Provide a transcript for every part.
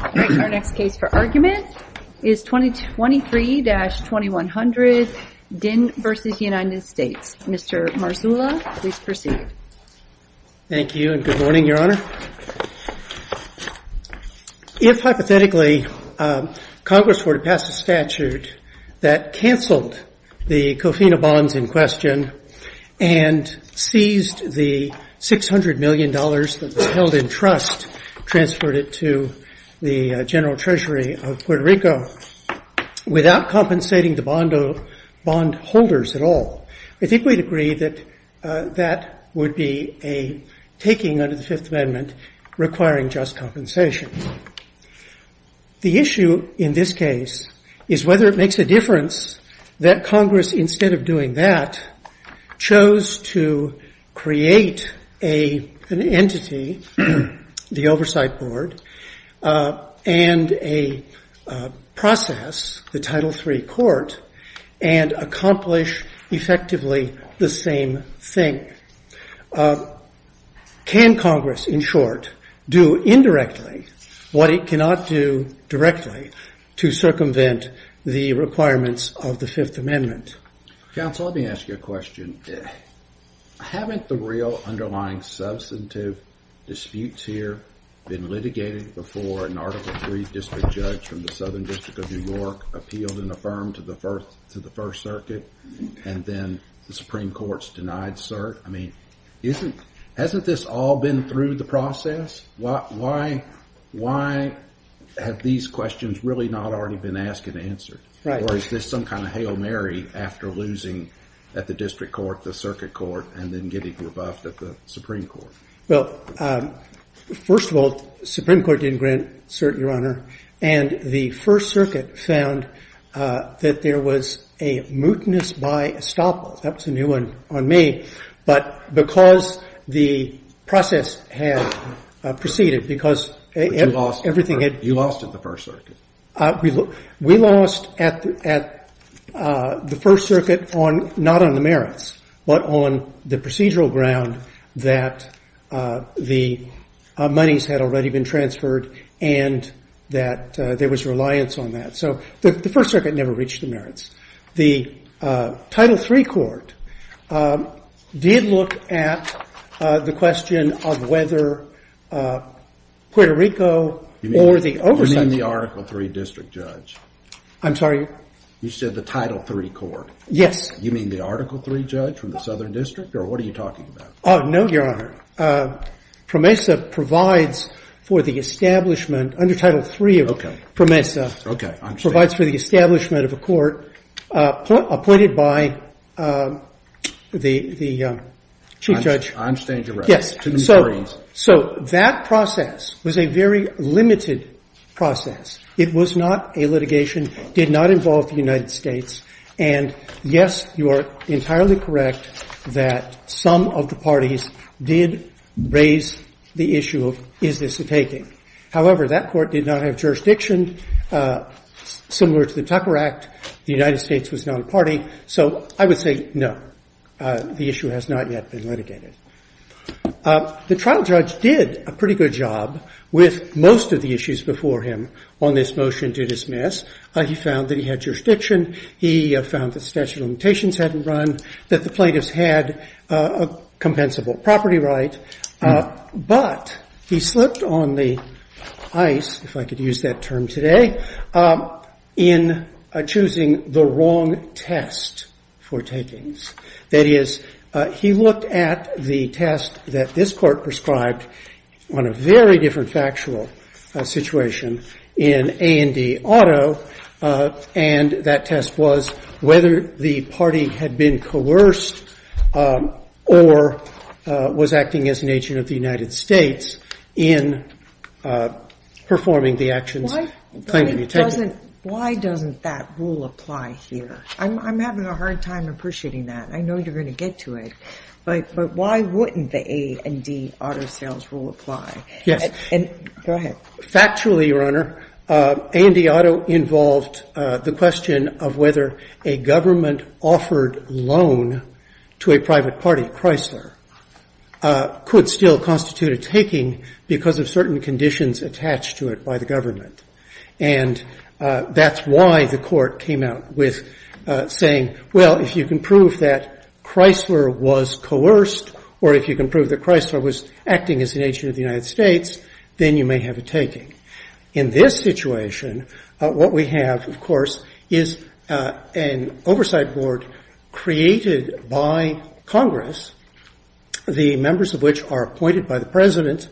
Our next case for argument is 2023-2100, Dinh v. United States. Mr. Marzulla, please proceed. Thank you and good morning, Your Honor. If hypothetically Congress were to pass a statute that canceled the cofina bonds in question and seized the $600 million that was held in trust, transferred it to the General Treasury of Puerto Rico without compensating the bondholders at all, I think we'd agree that that would be a taking under the Fifth Amendment requiring just compensation. The issue in this case is whether it makes a difference that Congress, instead of doing that, chose to create an entity, the Oversight Board, and a process, the Title III Court, and accomplish effectively the same thing. Can Congress, in short, do indirectly what it cannot do directly to circumvent the requirements of the Fifth Amendment? Counsel, let me ask you a question. Haven't the real underlying substantive disputes here been litigated before an Article III district judge from the Southern District of New York appealed and affirmed to the First Circuit and then the Supreme Court's denied cert? I mean, hasn't this all been through the process? Why have these questions really not already been asked and answered? Or is this some kind of hail Mary after losing at the district court, the circuit court, and then getting rebuffed at the Supreme Court? Well, first of all, the Supreme Court didn't grant cert, Your Honor. And the First Circuit found that there was a mootness by estoppel. That was a new one on me. But because the process had proceeded, because everything had- You lost at the First Circuit. We lost at the First Circuit not on the merits, but on the procedural ground that the monies had already been transferred and that there was reliance on that. So the First Circuit never reached the merits. The Title III court did look at the question of whether Puerto Rico or the oversight- You mean the Article III district judge? I'm sorry? You said the Title III court? Yes. You mean the Article III judge from the Southern District? Or what are you talking about? Oh, no, Your Honor. PROMESA provides for the establishment, under Title III of PROMESA- Okay, I understand. provides for the establishment of a court appointed by the Chief Judge- On stage arrest. To the Marines. So that process was a very limited process. It was not a litigation, did not involve the United States. And yes, you are entirely correct that some of the parties did raise the issue of, is this a taking? However, that court did not have jurisdiction similar to the Tucker Act. The United States was not a party. So I would say, no, the issue has not yet been litigated. The trial judge did a pretty good job with most of the issues before him on this motion to dismiss. He found that he had jurisdiction. He found that statute of limitations hadn't run, that the plaintiffs had a compensable property right. But he slipped on the ice, if I could use that term today, in choosing the wrong test for takings. That is, he looked at the test that this court prescribed on a very different factual situation in A&D Auto. And that test was whether the party had been coerced or was acting as an agent of the United States in performing the actions claimed to be taken. Why doesn't that rule apply here? I'm having a hard time appreciating that. I know you're going to get to it. But why wouldn't the A&D Auto sales rule apply? Yes. Go ahead. Factually, Your Honor, A&D Auto involved the question of whether a government-offered loan to a private party, Chrysler, could still constitute a taking because of certain conditions attached to it by the government. And that's why the court came out with saying, well, if you can prove that Chrysler was coerced, or if you can prove that Chrysler was acting as an agent of the United States, then you may have a taking. In this situation, what we have, of course, is an oversight board created by Congress, the members of which are appointed by the president.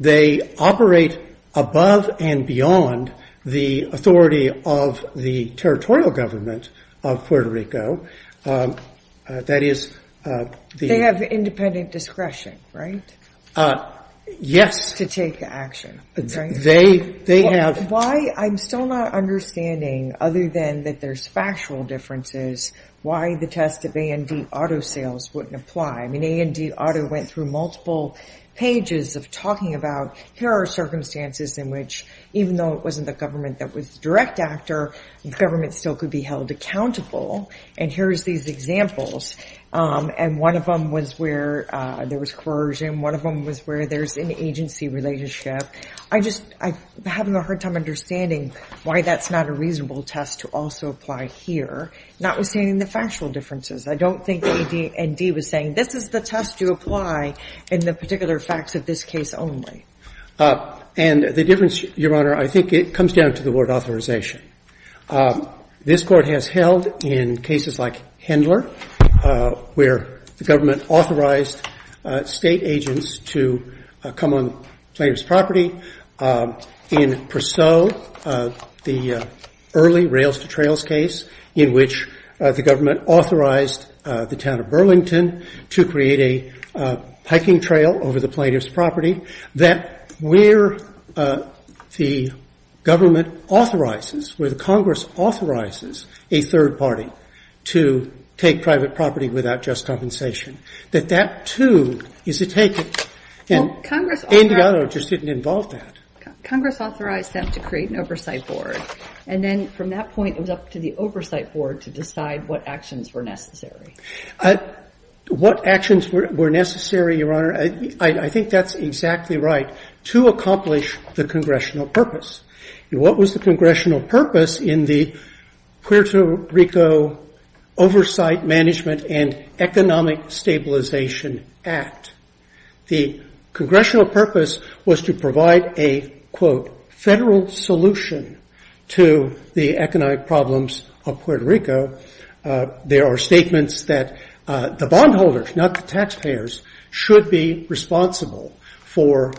They operate above and beyond the authority of the territorial government of Puerto Rico. They have independent discretion, right, to take action, right? They have. Why? I'm still not understanding, other than that there's factual differences, why the test of A&D Auto sales wouldn't apply. I mean, A&D Auto went through multiple pages of talking about, here are circumstances in which, even though it wasn't the government that was the direct actor, the government still could be held accountable. And here's these examples, and one of them was where there was coercion, one of them was where there's an agency relationship. I just, I'm having a hard time understanding why that's not a reasonable test to also apply here, notwithstanding the factual differences. I don't think A&D was saying, this is the test you apply in the particular facts of this case only. And the difference, Your Honor, I think it comes down to the word authorization. This Court has held in cases like Hendler, where the government authorized state agents to come on plaintiff's property. In Purcell, the early Rails to Trails case, in which the government authorized the town of Burlington to create a hiking trail over the plaintiff's property, that where the government authorizes, where the Congress authorizes a third party to take private property without just compensation, that that too is a taken, and A&D Auto just didn't involve that. Congress authorized them to create an oversight board, and then from that point it was up to the oversight board to decide what actions were necessary. What actions were necessary, Your Honor? I think that's exactly right, to accomplish the congressional purpose. And what was the congressional purpose in the Puerto Rico Oversight Management and Economic Stabilization Act? The congressional purpose was to provide a, quote, federal solution to the economic problems of Puerto Rico. There are statements that the bondholders, not the taxpayers, should be responsible for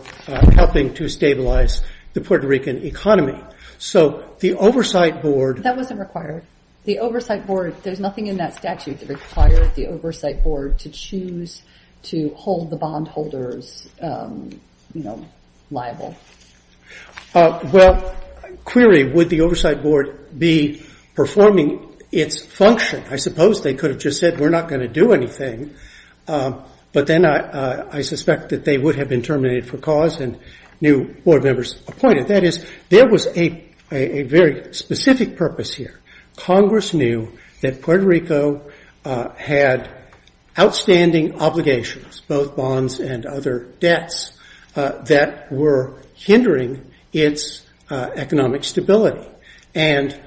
helping to stabilize the Puerto Rican economy. So the oversight board... That wasn't required. The oversight board, there's nothing in that statute that requires the oversight board to choose to hold the bondholders, you know, liable. Well, clearly, would the oversight board be performing its function? I suppose they could have just said, we're not going to do anything. But then I suspect that they would have been terminated for cause and new board members appointed. That is, there was a very specific purpose here. Congress knew that Puerto Rico had outstanding obligations, both bonds and other debts, that were hindering its economic stability. And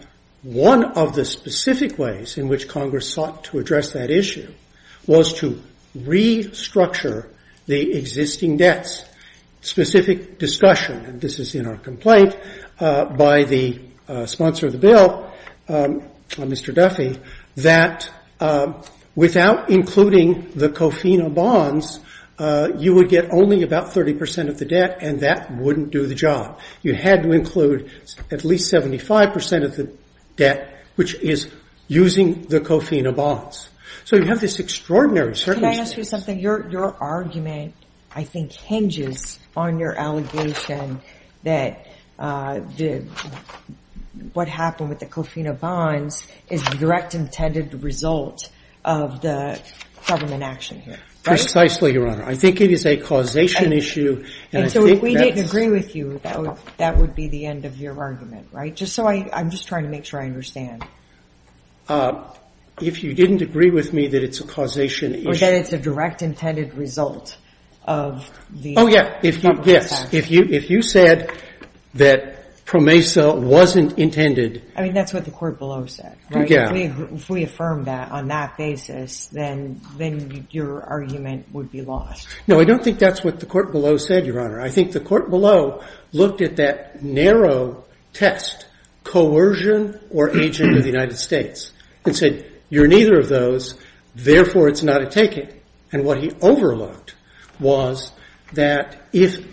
one of the specific ways in which Congress sought to address that issue was to restructure the existing debts. Specific discussion, and this is in our complaint by the sponsor of the bill, Mr. Duffy, that without including the COFINA bonds, you would get only about 30 percent of the debt, and that wouldn't do the job. You had to include at least 75 percent of the debt, which is using the COFINA bonds. So you have this extraordinary circumstance. Can I ask you something? Your argument, I think, hinges on your allegation that what happened with the COFINA bonds is the direct intended result of the government action here. Precisely, Your Honor. I think it is a causation issue. And so if we didn't agree with you, that would be the end of your argument, right? Just so I'm just trying to make sure I understand. If you didn't agree with me that it's a causation issue. Or that it's a direct intended result of the government action. Oh, yeah, yes. If you said that PROMESA wasn't intended. I mean, that's what the court below said, right? Yeah. If we affirmed that on that basis, then your argument would be lost. No, I don't think that's what the court below said, Your Honor. I think the court below looked at that narrow test, coercion or agent of the United States. And said, you're neither of those. Therefore, it's not a taking. And what he overlooked was that if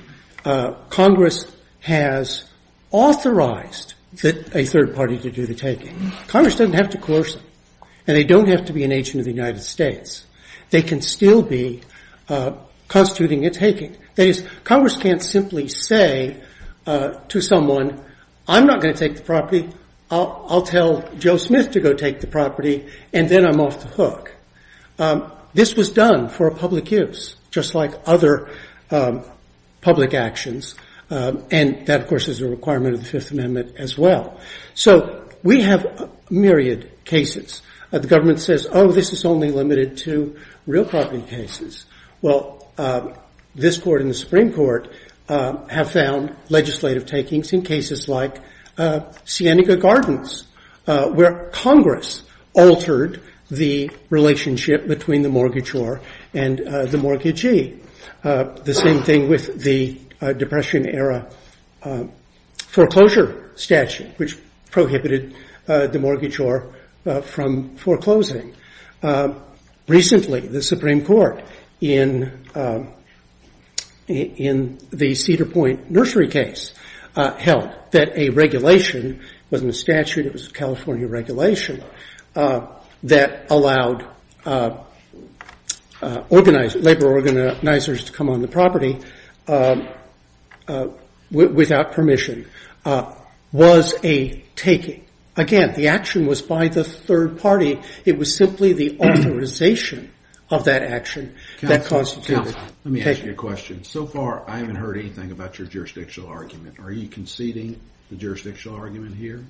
Congress has authorized a third party to do the taking, Congress doesn't have to coerce them. And they don't have to be an agent of the United States. They can still be constituting a taking. That is, Congress can't simply say to someone, I'm not going to take the property. I'll tell Joe Smith to go take the property. And then I'm off the hook. This was done for a public use, just like other public actions. And that, of course, is a requirement of the Fifth Amendment as well. So we have myriad cases. The government says, oh, this is only limited to real property cases. Well, this court and the Supreme Court have found legislative takings in cases like Sienega Gardens, where Congress altered the relationship between the mortgagor and the mortgagee. The same thing with the Depression-era foreclosure statute, which prohibited the mortgagor from foreclosing. Recently, the Supreme Court, in the Cedar Point nursery case, held that a regulation, it wasn't a statute, it was a California regulation, that allowed labor organizers to come on the property without permission, was a taking. Again, the action was by the third party. It was simply the authorization of that action that constituted taking. Let me ask you a question. So far, I haven't heard anything about your jurisdictional argument. Are you conceding the jurisdictional argument here?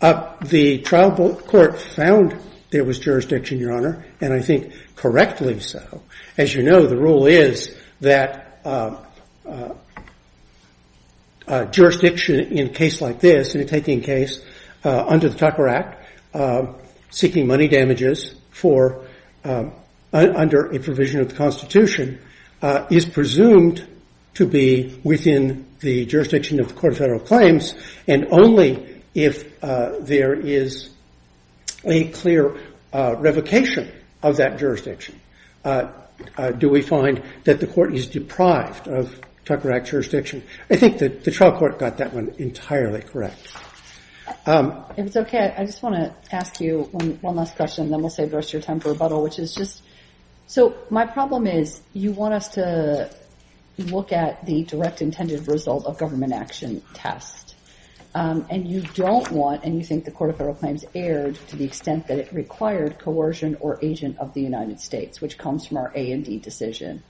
The trial court found there was jurisdiction, Your Honor, and I think correctly so. As you know, the rule is that jurisdiction in a case like this, in a taking case under the Tucker Act, seeking money damages under a provision of the Constitution, is presumed to be within the jurisdiction of the court of federal claims, and only if there is a clear revocation of that jurisdiction do we find that the court is deprived of Tucker Act jurisdiction. I think that the trial court got that one entirely correct. If it's okay, I just want to ask you one last question, and then we'll save the rest of your time for rebuttal, which is just, so my problem is you want us to look at the direct intended result of government action test, and you don't want, and you think the court of federal claims erred to the extent that it required coercion or agent of the United States, which comes from our A&D decision.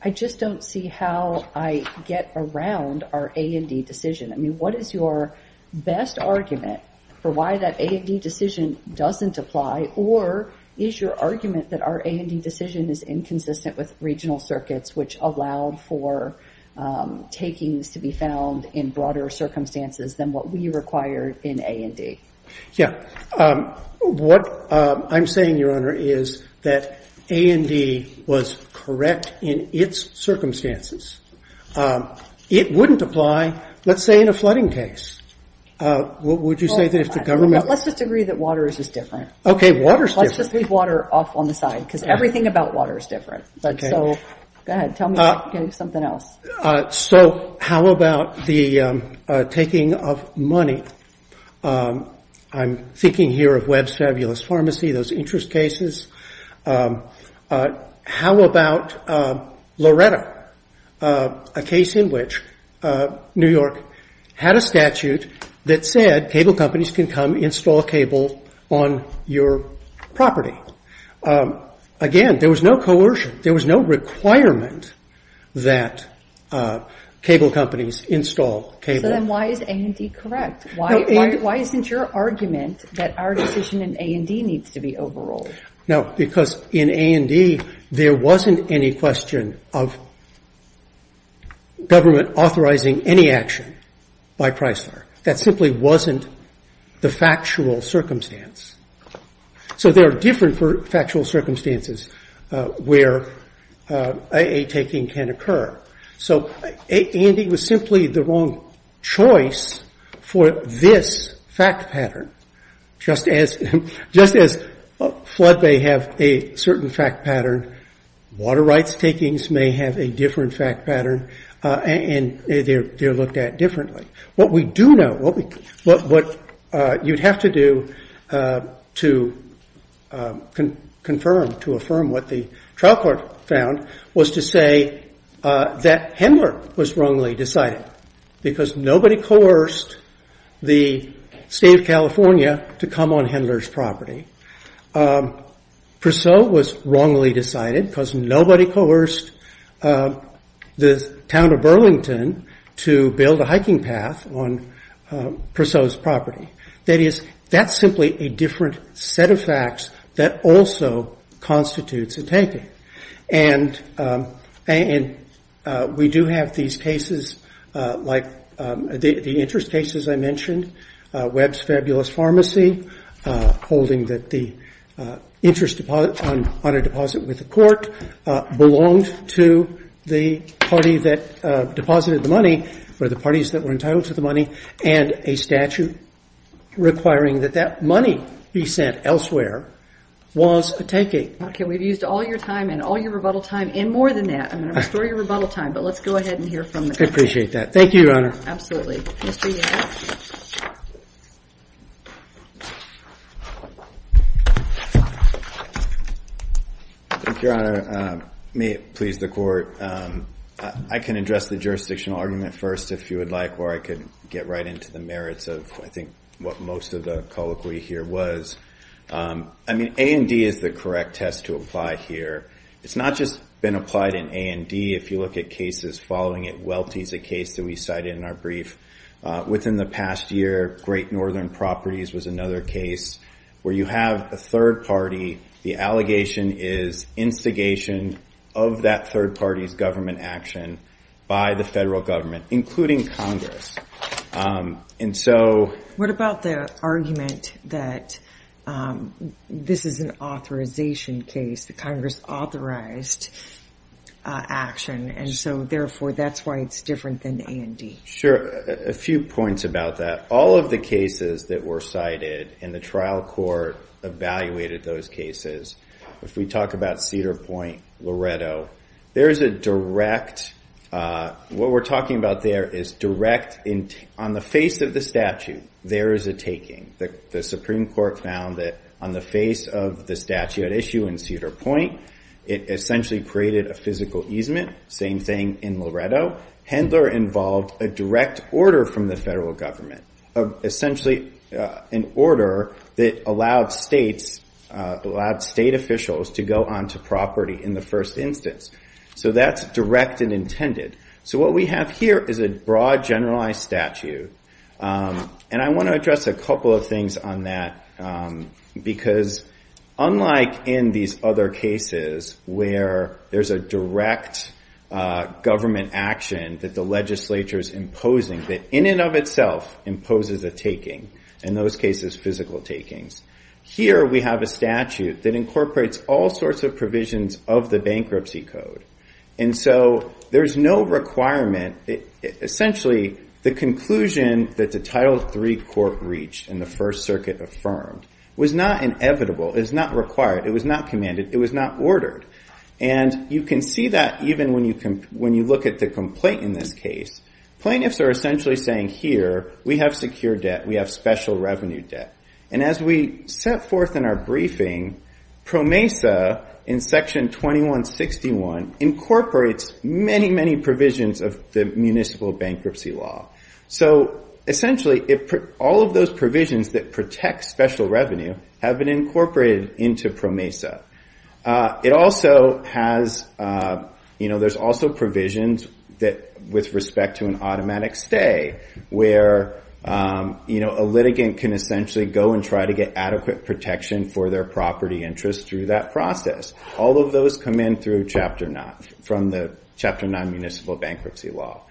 I just don't see how I get around our A&D decision. I mean, what is your best argument for why that A&D decision doesn't apply, or is your argument that our A&D decision is inconsistent with regional circuits, which allowed for takings to be found in broader circumstances than what we required in A&D? Yeah. What I'm saying, Your Honor, is that A&D was correct in its circumstances. It wouldn't apply, let's say, in a flooding case. Would you say that if the government- Let's just agree that water is just different. Okay, water is different. Let's just leave water off on the side, because everything about water is different. So, go ahead, tell me something else. So how about the taking of money? I'm thinking here of Webb's Fabulous Pharmacy, those interest cases. How about Loretta, a case in which New York had a statute that said cable companies can come install cable on your property. Again, there was no coercion. There was no requirement that cable companies install cable. So then why is A&D correct? Why isn't your argument that our decision in A&D needs to be overruled? Now, because in A&D, there wasn't any question of government authorizing any action by Chrysler. That simply wasn't the factual circumstance. So there are different factual circumstances where a taking can occur. So A&D was simply the wrong choice for this fact pattern. Just as flood may have a certain fact pattern, water rights takings may have a different fact pattern, and they're looked at differently. What we do know, what you'd have to do to confirm, to affirm what the trial court found, was to say that Hendler was wrongly decided. Because nobody coerced the state of California to come on Hendler's property. Purcell was wrongly decided because nobody coerced the town of Burlington to build a hiking path on Purcell's property. That is, that's simply a different set of facts that also constitutes a taking. And we do have these cases like the interest cases I mentioned. Webb's Fabulous Pharmacy, holding that the interest on a deposit with the court belonged to the party that deposited the money, or the parties that were entitled to the money. And a statute requiring that that money be sent elsewhere was a taking. Okay, we've used all your time and all your rebuttal time, and more than that. I'm going to restore your rebuttal time, but let's go ahead and hear from the court. I appreciate that. Thank you, Your Honor. Absolutely. Thank you, Your Honor. May it please the court. I can address the jurisdictional argument first, if you would like, where I could get right into the merits of, I think, what most of the colloquy here was. I mean, A&D is the correct test to apply here. It's not just been applied in A&D. If you look at cases following it, Welty is a case that we cited in our brief. Within the past year, Great Northern Properties was another case where you have a third party. The allegation is instigation of that third party's government action by the federal government, including Congress. What about the argument that this is an authorization case, that Congress authorized action, and so, therefore, that's why it's different than A&D? Sure. A few points about that. All of the cases that were cited in the trial court evaluated those cases. If we talk about Cedar Point, Loretto, there is a direct – what we're talking about there is direct – on the face of the statute, there is a taking. The Supreme Court found that on the face of the statute at issue in Cedar Point, it essentially created a physical easement. Same thing in Loretto. Handler involved a direct order from the federal government, essentially an order that allowed states – allowed state officials to go onto property in the first instance. That's direct and intended. What we have here is a broad, generalized statute. And I want to address a couple of things on that, because unlike in these other cases where there's a direct government action that the legislature is imposing, that in and of itself imposes a taking, in those cases physical takings, here we have a statute that incorporates all sorts of provisions of the bankruptcy code. And so there's no requirement – essentially, the conclusion that the Title III court reached in the First Circuit affirmed was not inevitable. It was not required. It was not commanded. It was not ordered. And you can see that even when you look at the complaint in this case. Plaintiffs are essentially saying, here, we have secure debt. We have special revenue debt. And as we set forth in our briefing, PROMESA in Section 2161 incorporates many, many provisions of the municipal bankruptcy law. So essentially, all of those provisions that protect special revenue have been incorporated into PROMESA. It also has – there's also provisions with respect to an automatic stay, where a litigant can essentially go and try to get adequate protection for their property interest through that process. All of those come in through Chapter 9, from the Chapter 9 municipal bankruptcy law.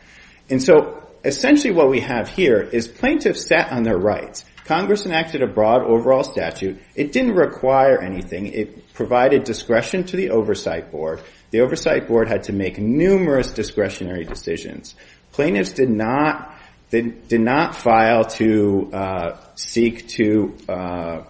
And so essentially what we have here is plaintiffs sat on their rights. Congress enacted a broad, overall statute. It didn't require anything. It provided discretion to the Oversight Board. The Oversight Board had to make numerous discretionary decisions. Plaintiffs did not file to seek to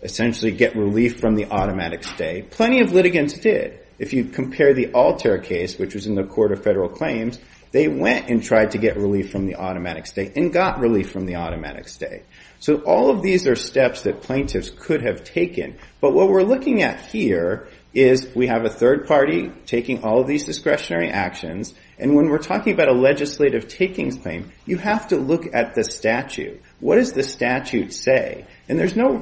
essentially get relief from the automatic stay. Plenty of litigants did. If you compare the Alter case, which was in the Court of Federal Claims, they went and tried to get relief from the automatic stay and got relief from the automatic stay. So all of these are steps that plaintiffs could have taken. But what we're looking at here is we have a third party taking all of these discretionary actions. And when we're talking about a legislative takings claim, you have to look at the statute. What does the statute say? And there's no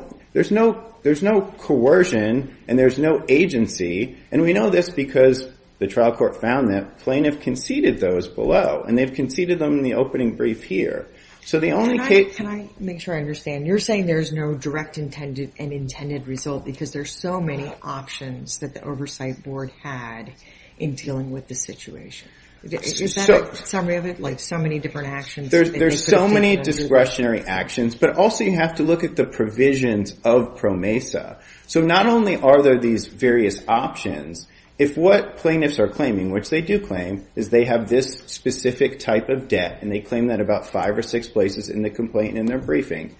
coercion and there's no agency. And we know this because the trial court found that plaintiff conceded those below. And they've conceded them in the opening brief here. Can I make sure I understand? You're saying there's no direct intended and intended result because there's so many options that the Oversight Board had in dealing with the situation. Is that a summary of it, like so many different actions? There's so many discretionary actions, but also you have to look at the provisions of PROMESA. So not only are there these various options, if what plaintiffs are claiming, which they do claim, is they have this specific type of debt. And they claim that about five or six places in the complaint in their briefing.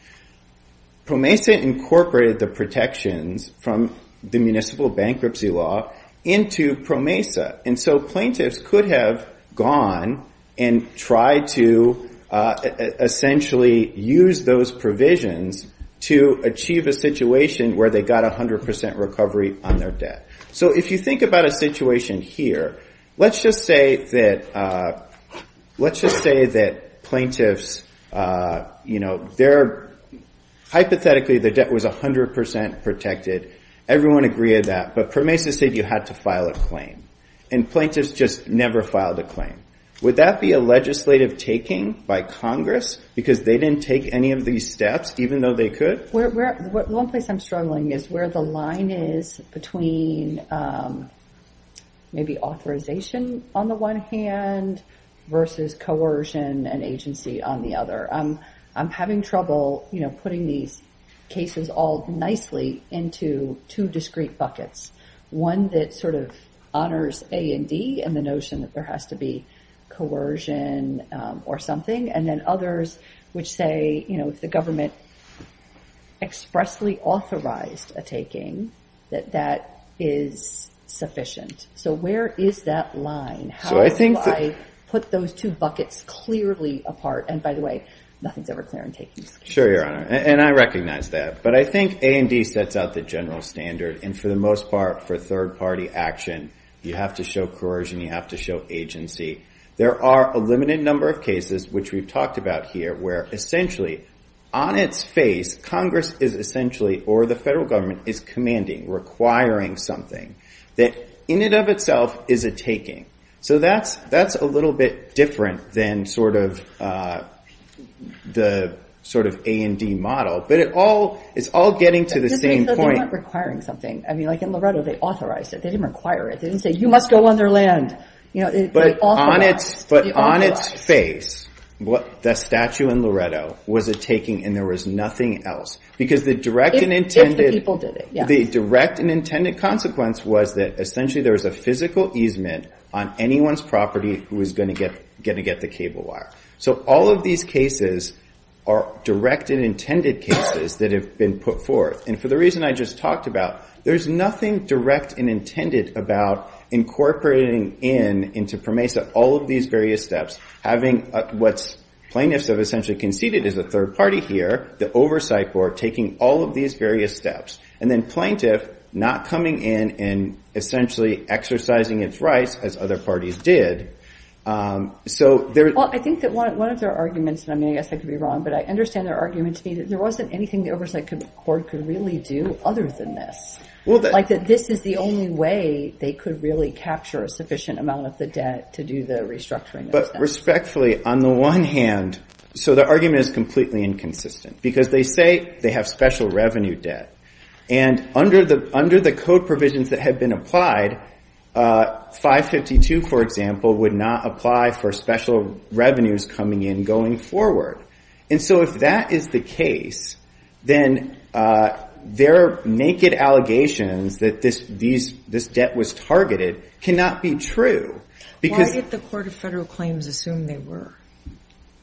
PROMESA incorporated the protections from the municipal bankruptcy law into PROMESA. And so plaintiffs could have gone and tried to essentially use those provisions to achieve a situation where they got 100 percent recovery on their debt. So if you think about a situation here, let's just say that plaintiffs, you know, hypothetically their debt was 100 percent protected. Everyone agreed to that. But PROMESA said you had to file a claim. And plaintiffs just never filed a claim. Would that be a legislative taking by Congress because they didn't take any of these steps even though they could? One place I'm struggling is where the line is between maybe authorization on the one hand versus coercion and agency on the other. I'm having trouble, you know, putting these cases all nicely into two discrete buckets. One that sort of honors A and D and the notion that there has to be coercion or something. And then others which say, you know, if the government expressly authorized a taking, that that is sufficient. So where is that line? How do I put those two buckets clearly apart? And by the way, nothing's ever clear in taking. Sure, Your Honor. And I recognize that. But I think A and D sets out the general standard. And for the most part, for third-party action, you have to show coercion. You have to show agency. There are a limited number of cases which we've talked about here where essentially on its face, Congress is essentially or the federal government is commanding, requiring something. That in and of itself is a taking. So that's a little bit different than sort of the sort of A and D model. But it's all getting to the same point. It just means that they weren't requiring something. I mean, like in Loretto, they authorized it. They didn't require it. They didn't say, you must go on their land. But on its face, the statue in Loretto was a taking and there was nothing else. Because the direct and intended consequence was that essentially there was a physical easement on anyone's property who was going to get the cable wire. So all of these cases are direct and intended cases that have been put forth. And for the reason I just talked about, there's nothing direct and intended about incorporating in into PROMESA all of these various steps. Having what plaintiffs have essentially conceded is a third party here, the oversight board, taking all of these various steps. And then plaintiff not coming in and essentially exercising its rights as other parties did. So there is- Well, I think that one of their arguments, and I mean, I guess I could be wrong, but I understand their argument to me that there wasn't anything the oversight board could really do other than this. Like that this is the only way they could really capture a sufficient amount of the debt to do the restructuring. But respectfully, on the one hand, so the argument is completely inconsistent. Because they say they have special revenue debt. And under the code provisions that have been applied, 552, for example, would not apply for special revenues coming in going forward. And so if that is the case, then their naked allegations that this debt was targeted cannot be true. Why did the Court of Federal Claims assume they were?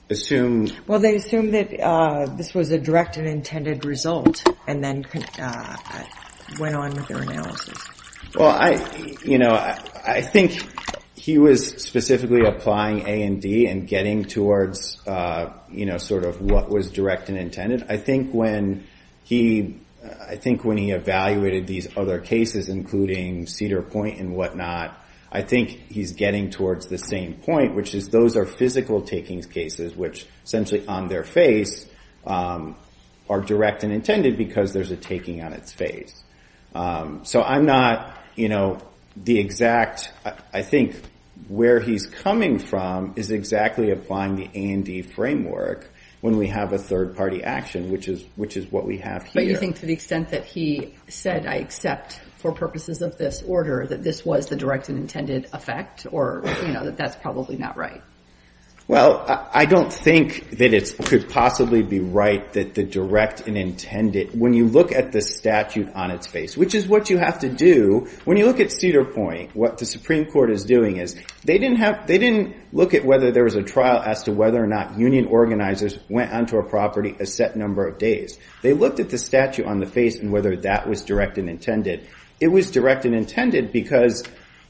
Assume- And then went on with their analysis. Well, I think he was specifically applying A and D and getting towards sort of what was direct and intended. I think when he evaluated these other cases, including Cedar Point and whatnot, I think he's getting towards the same point, which is those are physical takings cases, which essentially on their face are direct and intended because there's a taking on its face. So I'm not, you know, the exact- I think where he's coming from is exactly applying the A and D framework when we have a third party action, which is what we have here. But you think to the extent that he said, I accept for purposes of this order, that this was the direct and intended effect? Or, you know, that that's probably not right? Well, I don't think that it could possibly be right that the direct and intended- when you look at the statute on its face, which is what you have to do when you look at Cedar Point, what the Supreme Court is doing is they didn't have- they didn't look at whether there was a trial as to whether or not union organizers went onto a property a set number of days. They looked at the statute on the face and whether that was direct and intended. It was direct and intended because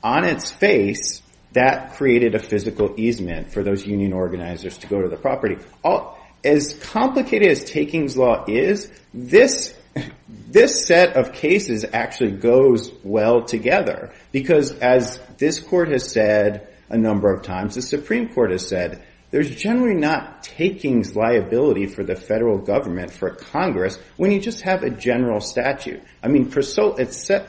on its face, that created a physical easement for those union organizers to go to the property. As complicated as takings law is, this set of cases actually goes well together. Because as this court has said a number of times, the Supreme Court has said, there's generally not takings liability for the federal government for Congress when you just have a general statute. I mean, it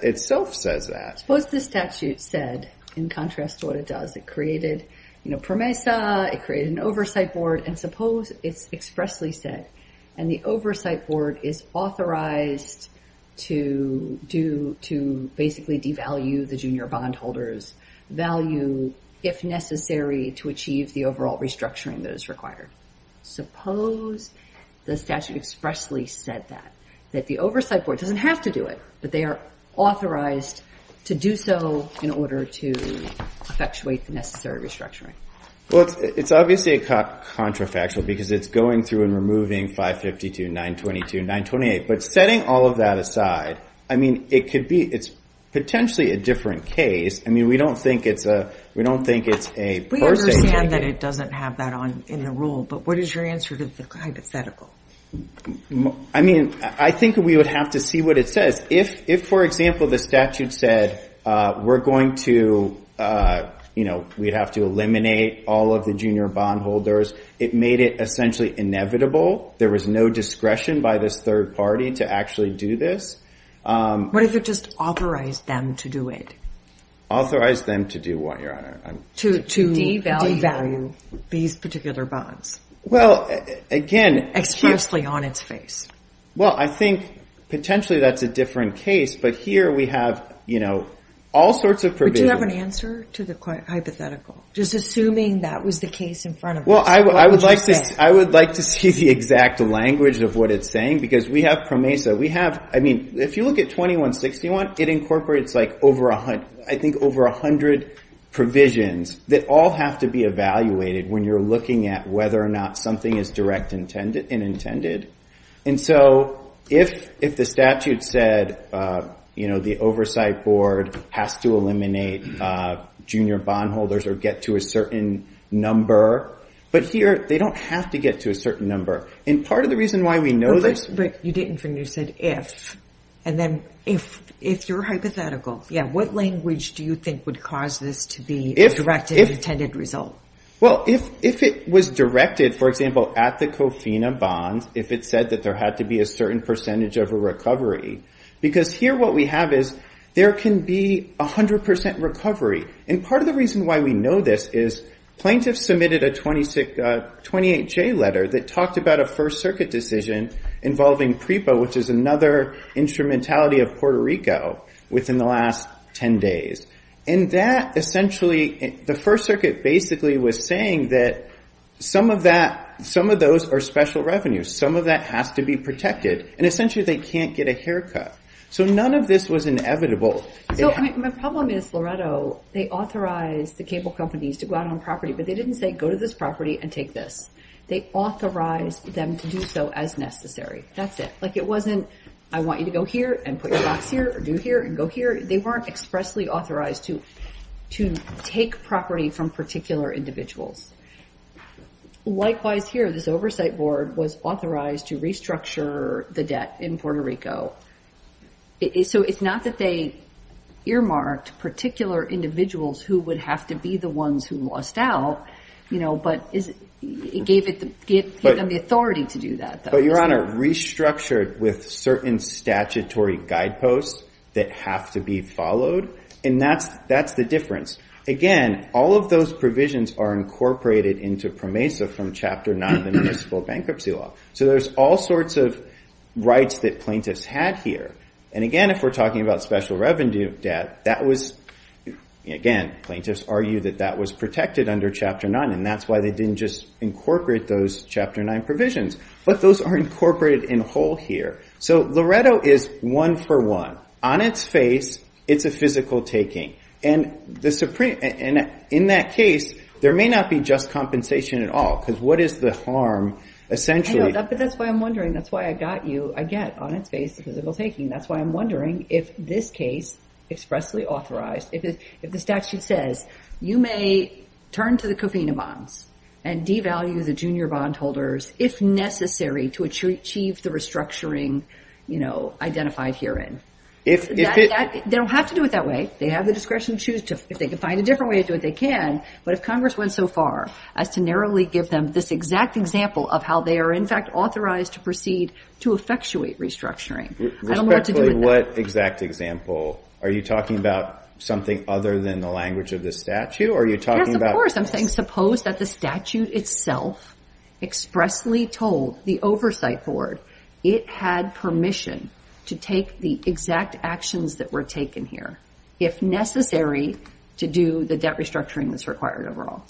itself says that. Suppose the statute said, in contrast to what it does, it created, you know, PROMESA, it created an oversight board, and suppose it's expressly said, and the oversight board is authorized to do- to basically devalue the junior bondholders' value if necessary to achieve the overall restructuring that is required. Suppose the statute expressly said that, that the oversight board doesn't have to do it, but they are authorized to do so in order to effectuate the necessary restructuring. Well, it's obviously a contrafactual because it's going through and removing 552, 922, 928. But setting all of that aside, I mean, it could be- it's potentially a different case. I mean, we don't think it's a- we don't think it's a- We understand that it doesn't have that on- in the rule, but what is your answer to the hypothetical? I mean, I think we would have to see what it says. If, for example, the statute said, we're going to, you know, we'd have to eliminate all of the junior bondholders, it made it essentially inevitable, there was no discretion by this third party to actually do this. What if it just authorized them to do it? Authorized them to do what, Your Honor? To devalue these particular bonds. Well, again- Expressly on its face. Well, I think potentially that's a different case, but here we have, you know, all sorts of provisions- Would you have an answer to the hypothetical? Just assuming that was the case in front of us, what would you say? Well, I would like to see the exact language of what it's saying because we have PROMESA. We have- I mean, if you look at 2161, it incorporates like over a hundred- I think over a hundred provisions that all have to be evaluated when you're looking at whether or not something is direct and intended. And so if the statute said, you know, the oversight board has to eliminate junior bondholders or get to a certain number, but here they don't have to get to a certain number. And part of the reason why we know this- You didn't when you said if. And then if you're hypothetical, yeah. What language do you think would cause this to be a direct and intended result? Well, if it was directed, for example, at the COFINA bond, if it said that there had to be a certain percentage of a recovery, because here what we have is there can be a hundred percent recovery. And part of the reason why we know this is plaintiffs submitted a 28J letter that talked about a First Circuit decision involving PREPA, which is another instrumentality of Puerto Rico, within the last 10 days. And that essentially- the First Circuit basically was saying that some of that- some of those are special revenues. Some of that has to be protected. And essentially they can't get a haircut. So none of this was inevitable. So my problem is, Loretto, they authorized the cable companies to go out on property, but they didn't say go to this property and take this. They authorized them to do so as necessary. That's it. Like it wasn't, I want you to go here and put your box here, or do here and go here. They weren't expressly authorized to take property from particular individuals. Likewise here, this oversight board was authorized to restructure the debt in Puerto Rico. So it's not that they earmarked particular individuals who would have to be the ones who lost out, you know, but it gave them the authority to do that. But, Your Honor, restructured with certain statutory guideposts that have to be followed. And that's the difference. Again, all of those provisions are incorporated into PROMESA from Chapter 9 of the Municipal Bankruptcy Law. So there's all sorts of rights that plaintiffs had here. And, again, if we're talking about special revenue debt, that was- again, that's why they didn't just incorporate those Chapter 9 provisions. But those are incorporated in whole here. So Loretto is one for one. On its face, it's a physical taking. And in that case, there may not be just compensation at all because what is the harm essentially- But that's why I'm wondering. That's why I got you, I get, on its face, a physical taking. That's why I'm wondering if this case, expressly authorized, if the statute says you may turn to the cofina bonds and devalue the junior bondholders if necessary to achieve the restructuring, you know, identified herein. They don't have to do it that way. They have the discretion to choose if they can find a different way to do it. They can, but if Congress went so far as to narrowly give them this exact example of how they are, in fact, authorized to proceed to effectuate restructuring, I don't know what to do with that. What exact example? Are you talking about something other than the language of the statute? Or are you talking about- Yes, of course. I'm saying suppose that the statute itself expressly told the oversight board it had permission to take the exact actions that were taken here if necessary to do the debt restructuring that's required overall.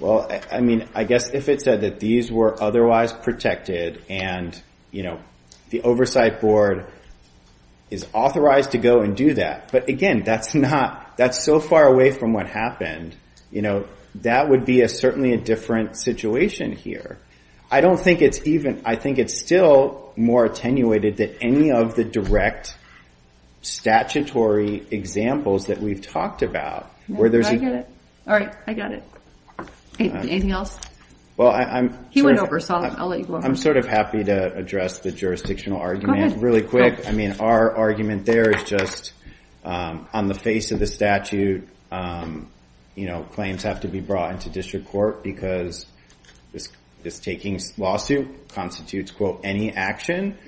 Well, I mean, I guess if it said that these were otherwise protected and the oversight board is authorized to go and do that, but again, that's so far away from what happened. That would be certainly a different situation here. I think it's still more attenuated than any of the direct statutory examples that we've talked about where there's- I get it. All right. I got it. Anything else? Well, I'm- He went over, so I'll let you go. I'm sort of happy to address the jurisdictional argument really quick. I mean, our argument there is just on the face of the statute, claims have to be brought into district court because this taking lawsuit constitutes, quote, any action.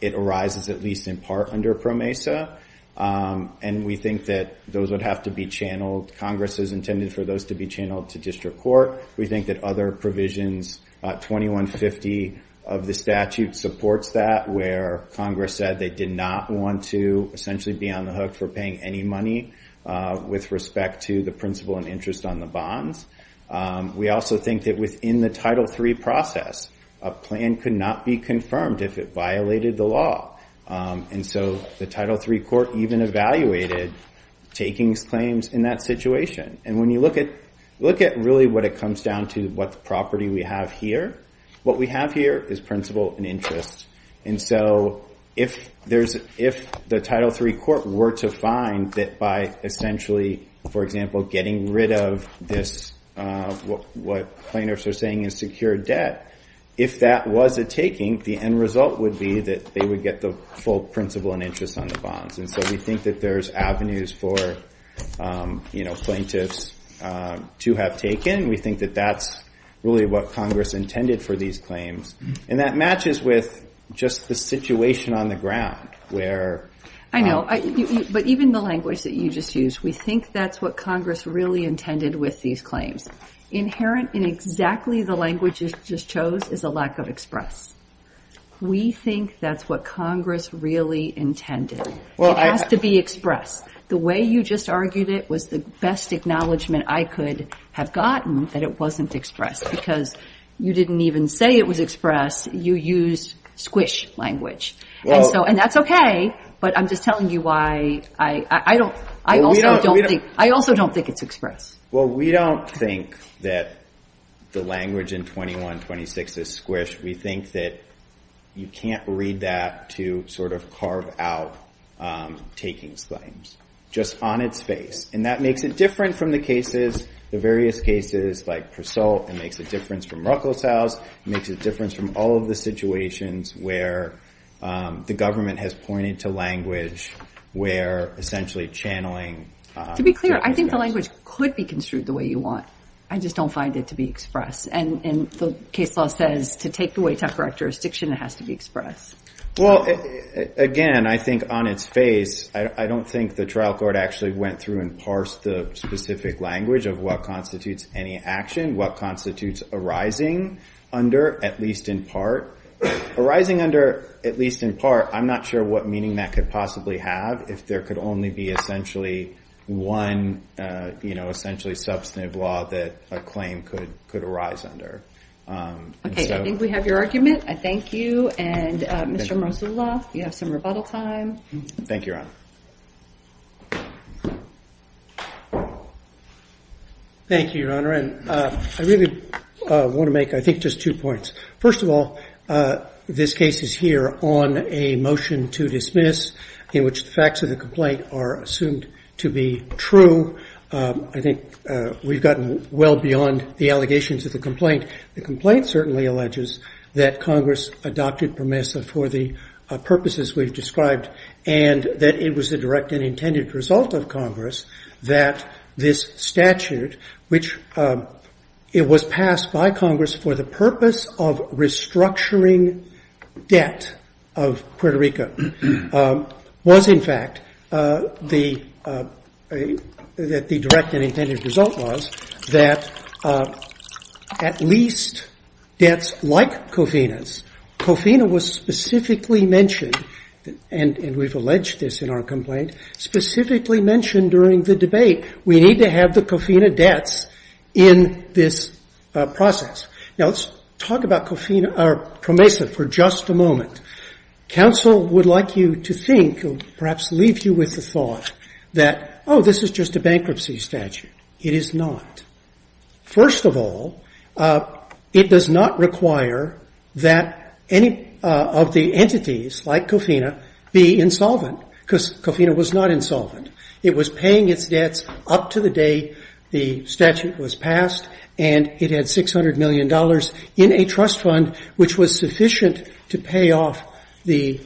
It arises at least in part under PROMESA, and we think that those would have to be channeled. Congress has intended for those to be channeled to district court. We think that other provisions, 2150 of the statute supports that, where Congress said they did not want to essentially be on the hook for paying any money with respect to the principal and interest on the bonds. We also think that within the Title III process, a plan could not be confirmed if it violated the law, and so the Title III court even evaluated takings claims in that situation. And when you look at really what it comes down to, what property we have here, what we have here is principal and interest. And so if the Title III court were to find that by essentially, for example, getting rid of this, what plaintiffs are saying is secure debt, if that was a taking, the end result would be that they would get the full principal and interest on the bonds. And so we think that there's avenues for plaintiffs to have taken, and we think that that's really what Congress intended for these claims. And that matches with just the situation on the ground, where— I know, but even the language that you just used, we think that's what Congress really intended with these claims. Inherent in exactly the language you just chose is a lack of express. We think that's what Congress really intended. It has to be expressed. The way you just argued it was the best acknowledgement I could have gotten that it wasn't expressed, because you didn't even say it was expressed. You used squish language. And that's okay, but I'm just telling you why I also don't think it's expressed. Well, we don't think that the language in 2126 is squish. We think that you can't read that to sort of carve out takings claims, just on its face. And that makes it different from the cases, the various cases like Pursault. It makes a difference from Ruckelshaus. It makes a difference from all of the situations where the government has pointed to language where essentially channeling— To be clear, I think the language could be construed the way you want. I just don't find it to be expressed. And the case law says to take away tough characteristics, it has to be expressed. Well, again, I think on its face, I don't think the trial court actually went through and parsed the specific language of what constitutes any action, what constitutes arising under, at least in part. Arising under, at least in part, I'm not sure what meaning that could possibly have if there could only be essentially one, essentially substantive law that a claim could arise under. Okay, I think we have your argument. I thank you. And Mr. Mrosoloff, you have some rebuttal time. Thank you, Your Honor. Thank you, Your Honor. And I really want to make, I think, just two points. First of all, this case is here on a motion to dismiss, in which the facts of the complaint are assumed to be true. I think we've gotten well beyond the allegations of the complaint. The complaint certainly alleges that Congress adopted PROMESA for the purposes we've described and that it was a direct and intended result of Congress that this statute, which it was passed by Congress for the purpose of restructuring debt of Puerto Rico, was, in fact, that the direct and intended result was that at least debts like COFINA's, COFINA was specifically mentioned, and we've alleged this in our complaint, specifically mentioned during the debate. We need to have the COFINA debts in this process. Now, let's talk about PROMESA for just a moment. Counsel would like you to think, perhaps leave you with the thought that, oh, this is just a bankruptcy statute. It is not. First of all, it does not require that any of the entities, like COFINA, be insolvent, because COFINA was not insolvent. It was paying its debts up to the day the statute was passed, and it had $600 million in a trust fund, which was sufficient to pay off the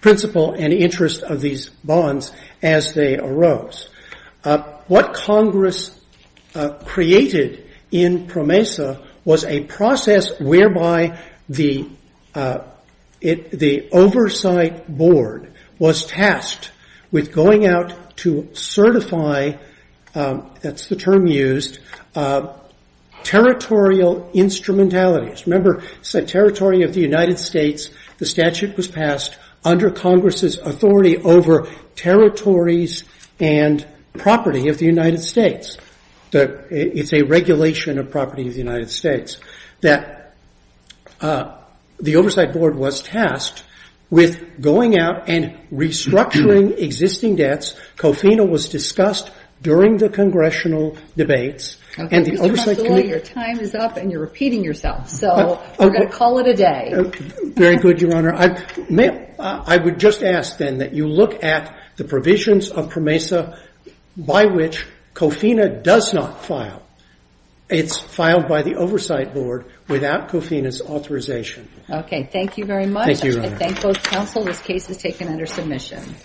principal and interest of these bonds as they arose. What Congress created in PROMESA was a process whereby the oversight board was tasked with going out to certify, that's the term used, territorial instrumentalities. Remember, it's the territory of the United States. The statute was passed under Congress's authority over territories and property of the United States. It's a regulation of property of the United States, that the oversight board was tasked with going out and restructuring existing debts. COFINA was discussed during the congressional debates, and the oversight committee Your time is up, and you're repeating yourself, so we're going to call it a day. Very good, Your Honor. I would just ask, then, that you look at the provisions of PROMESA by which COFINA does not file. It's filed by the oversight board without COFINA's authorization. Okay, thank you very much. Thank you, Your Honor. I thank both counsel. This case is taken under submission.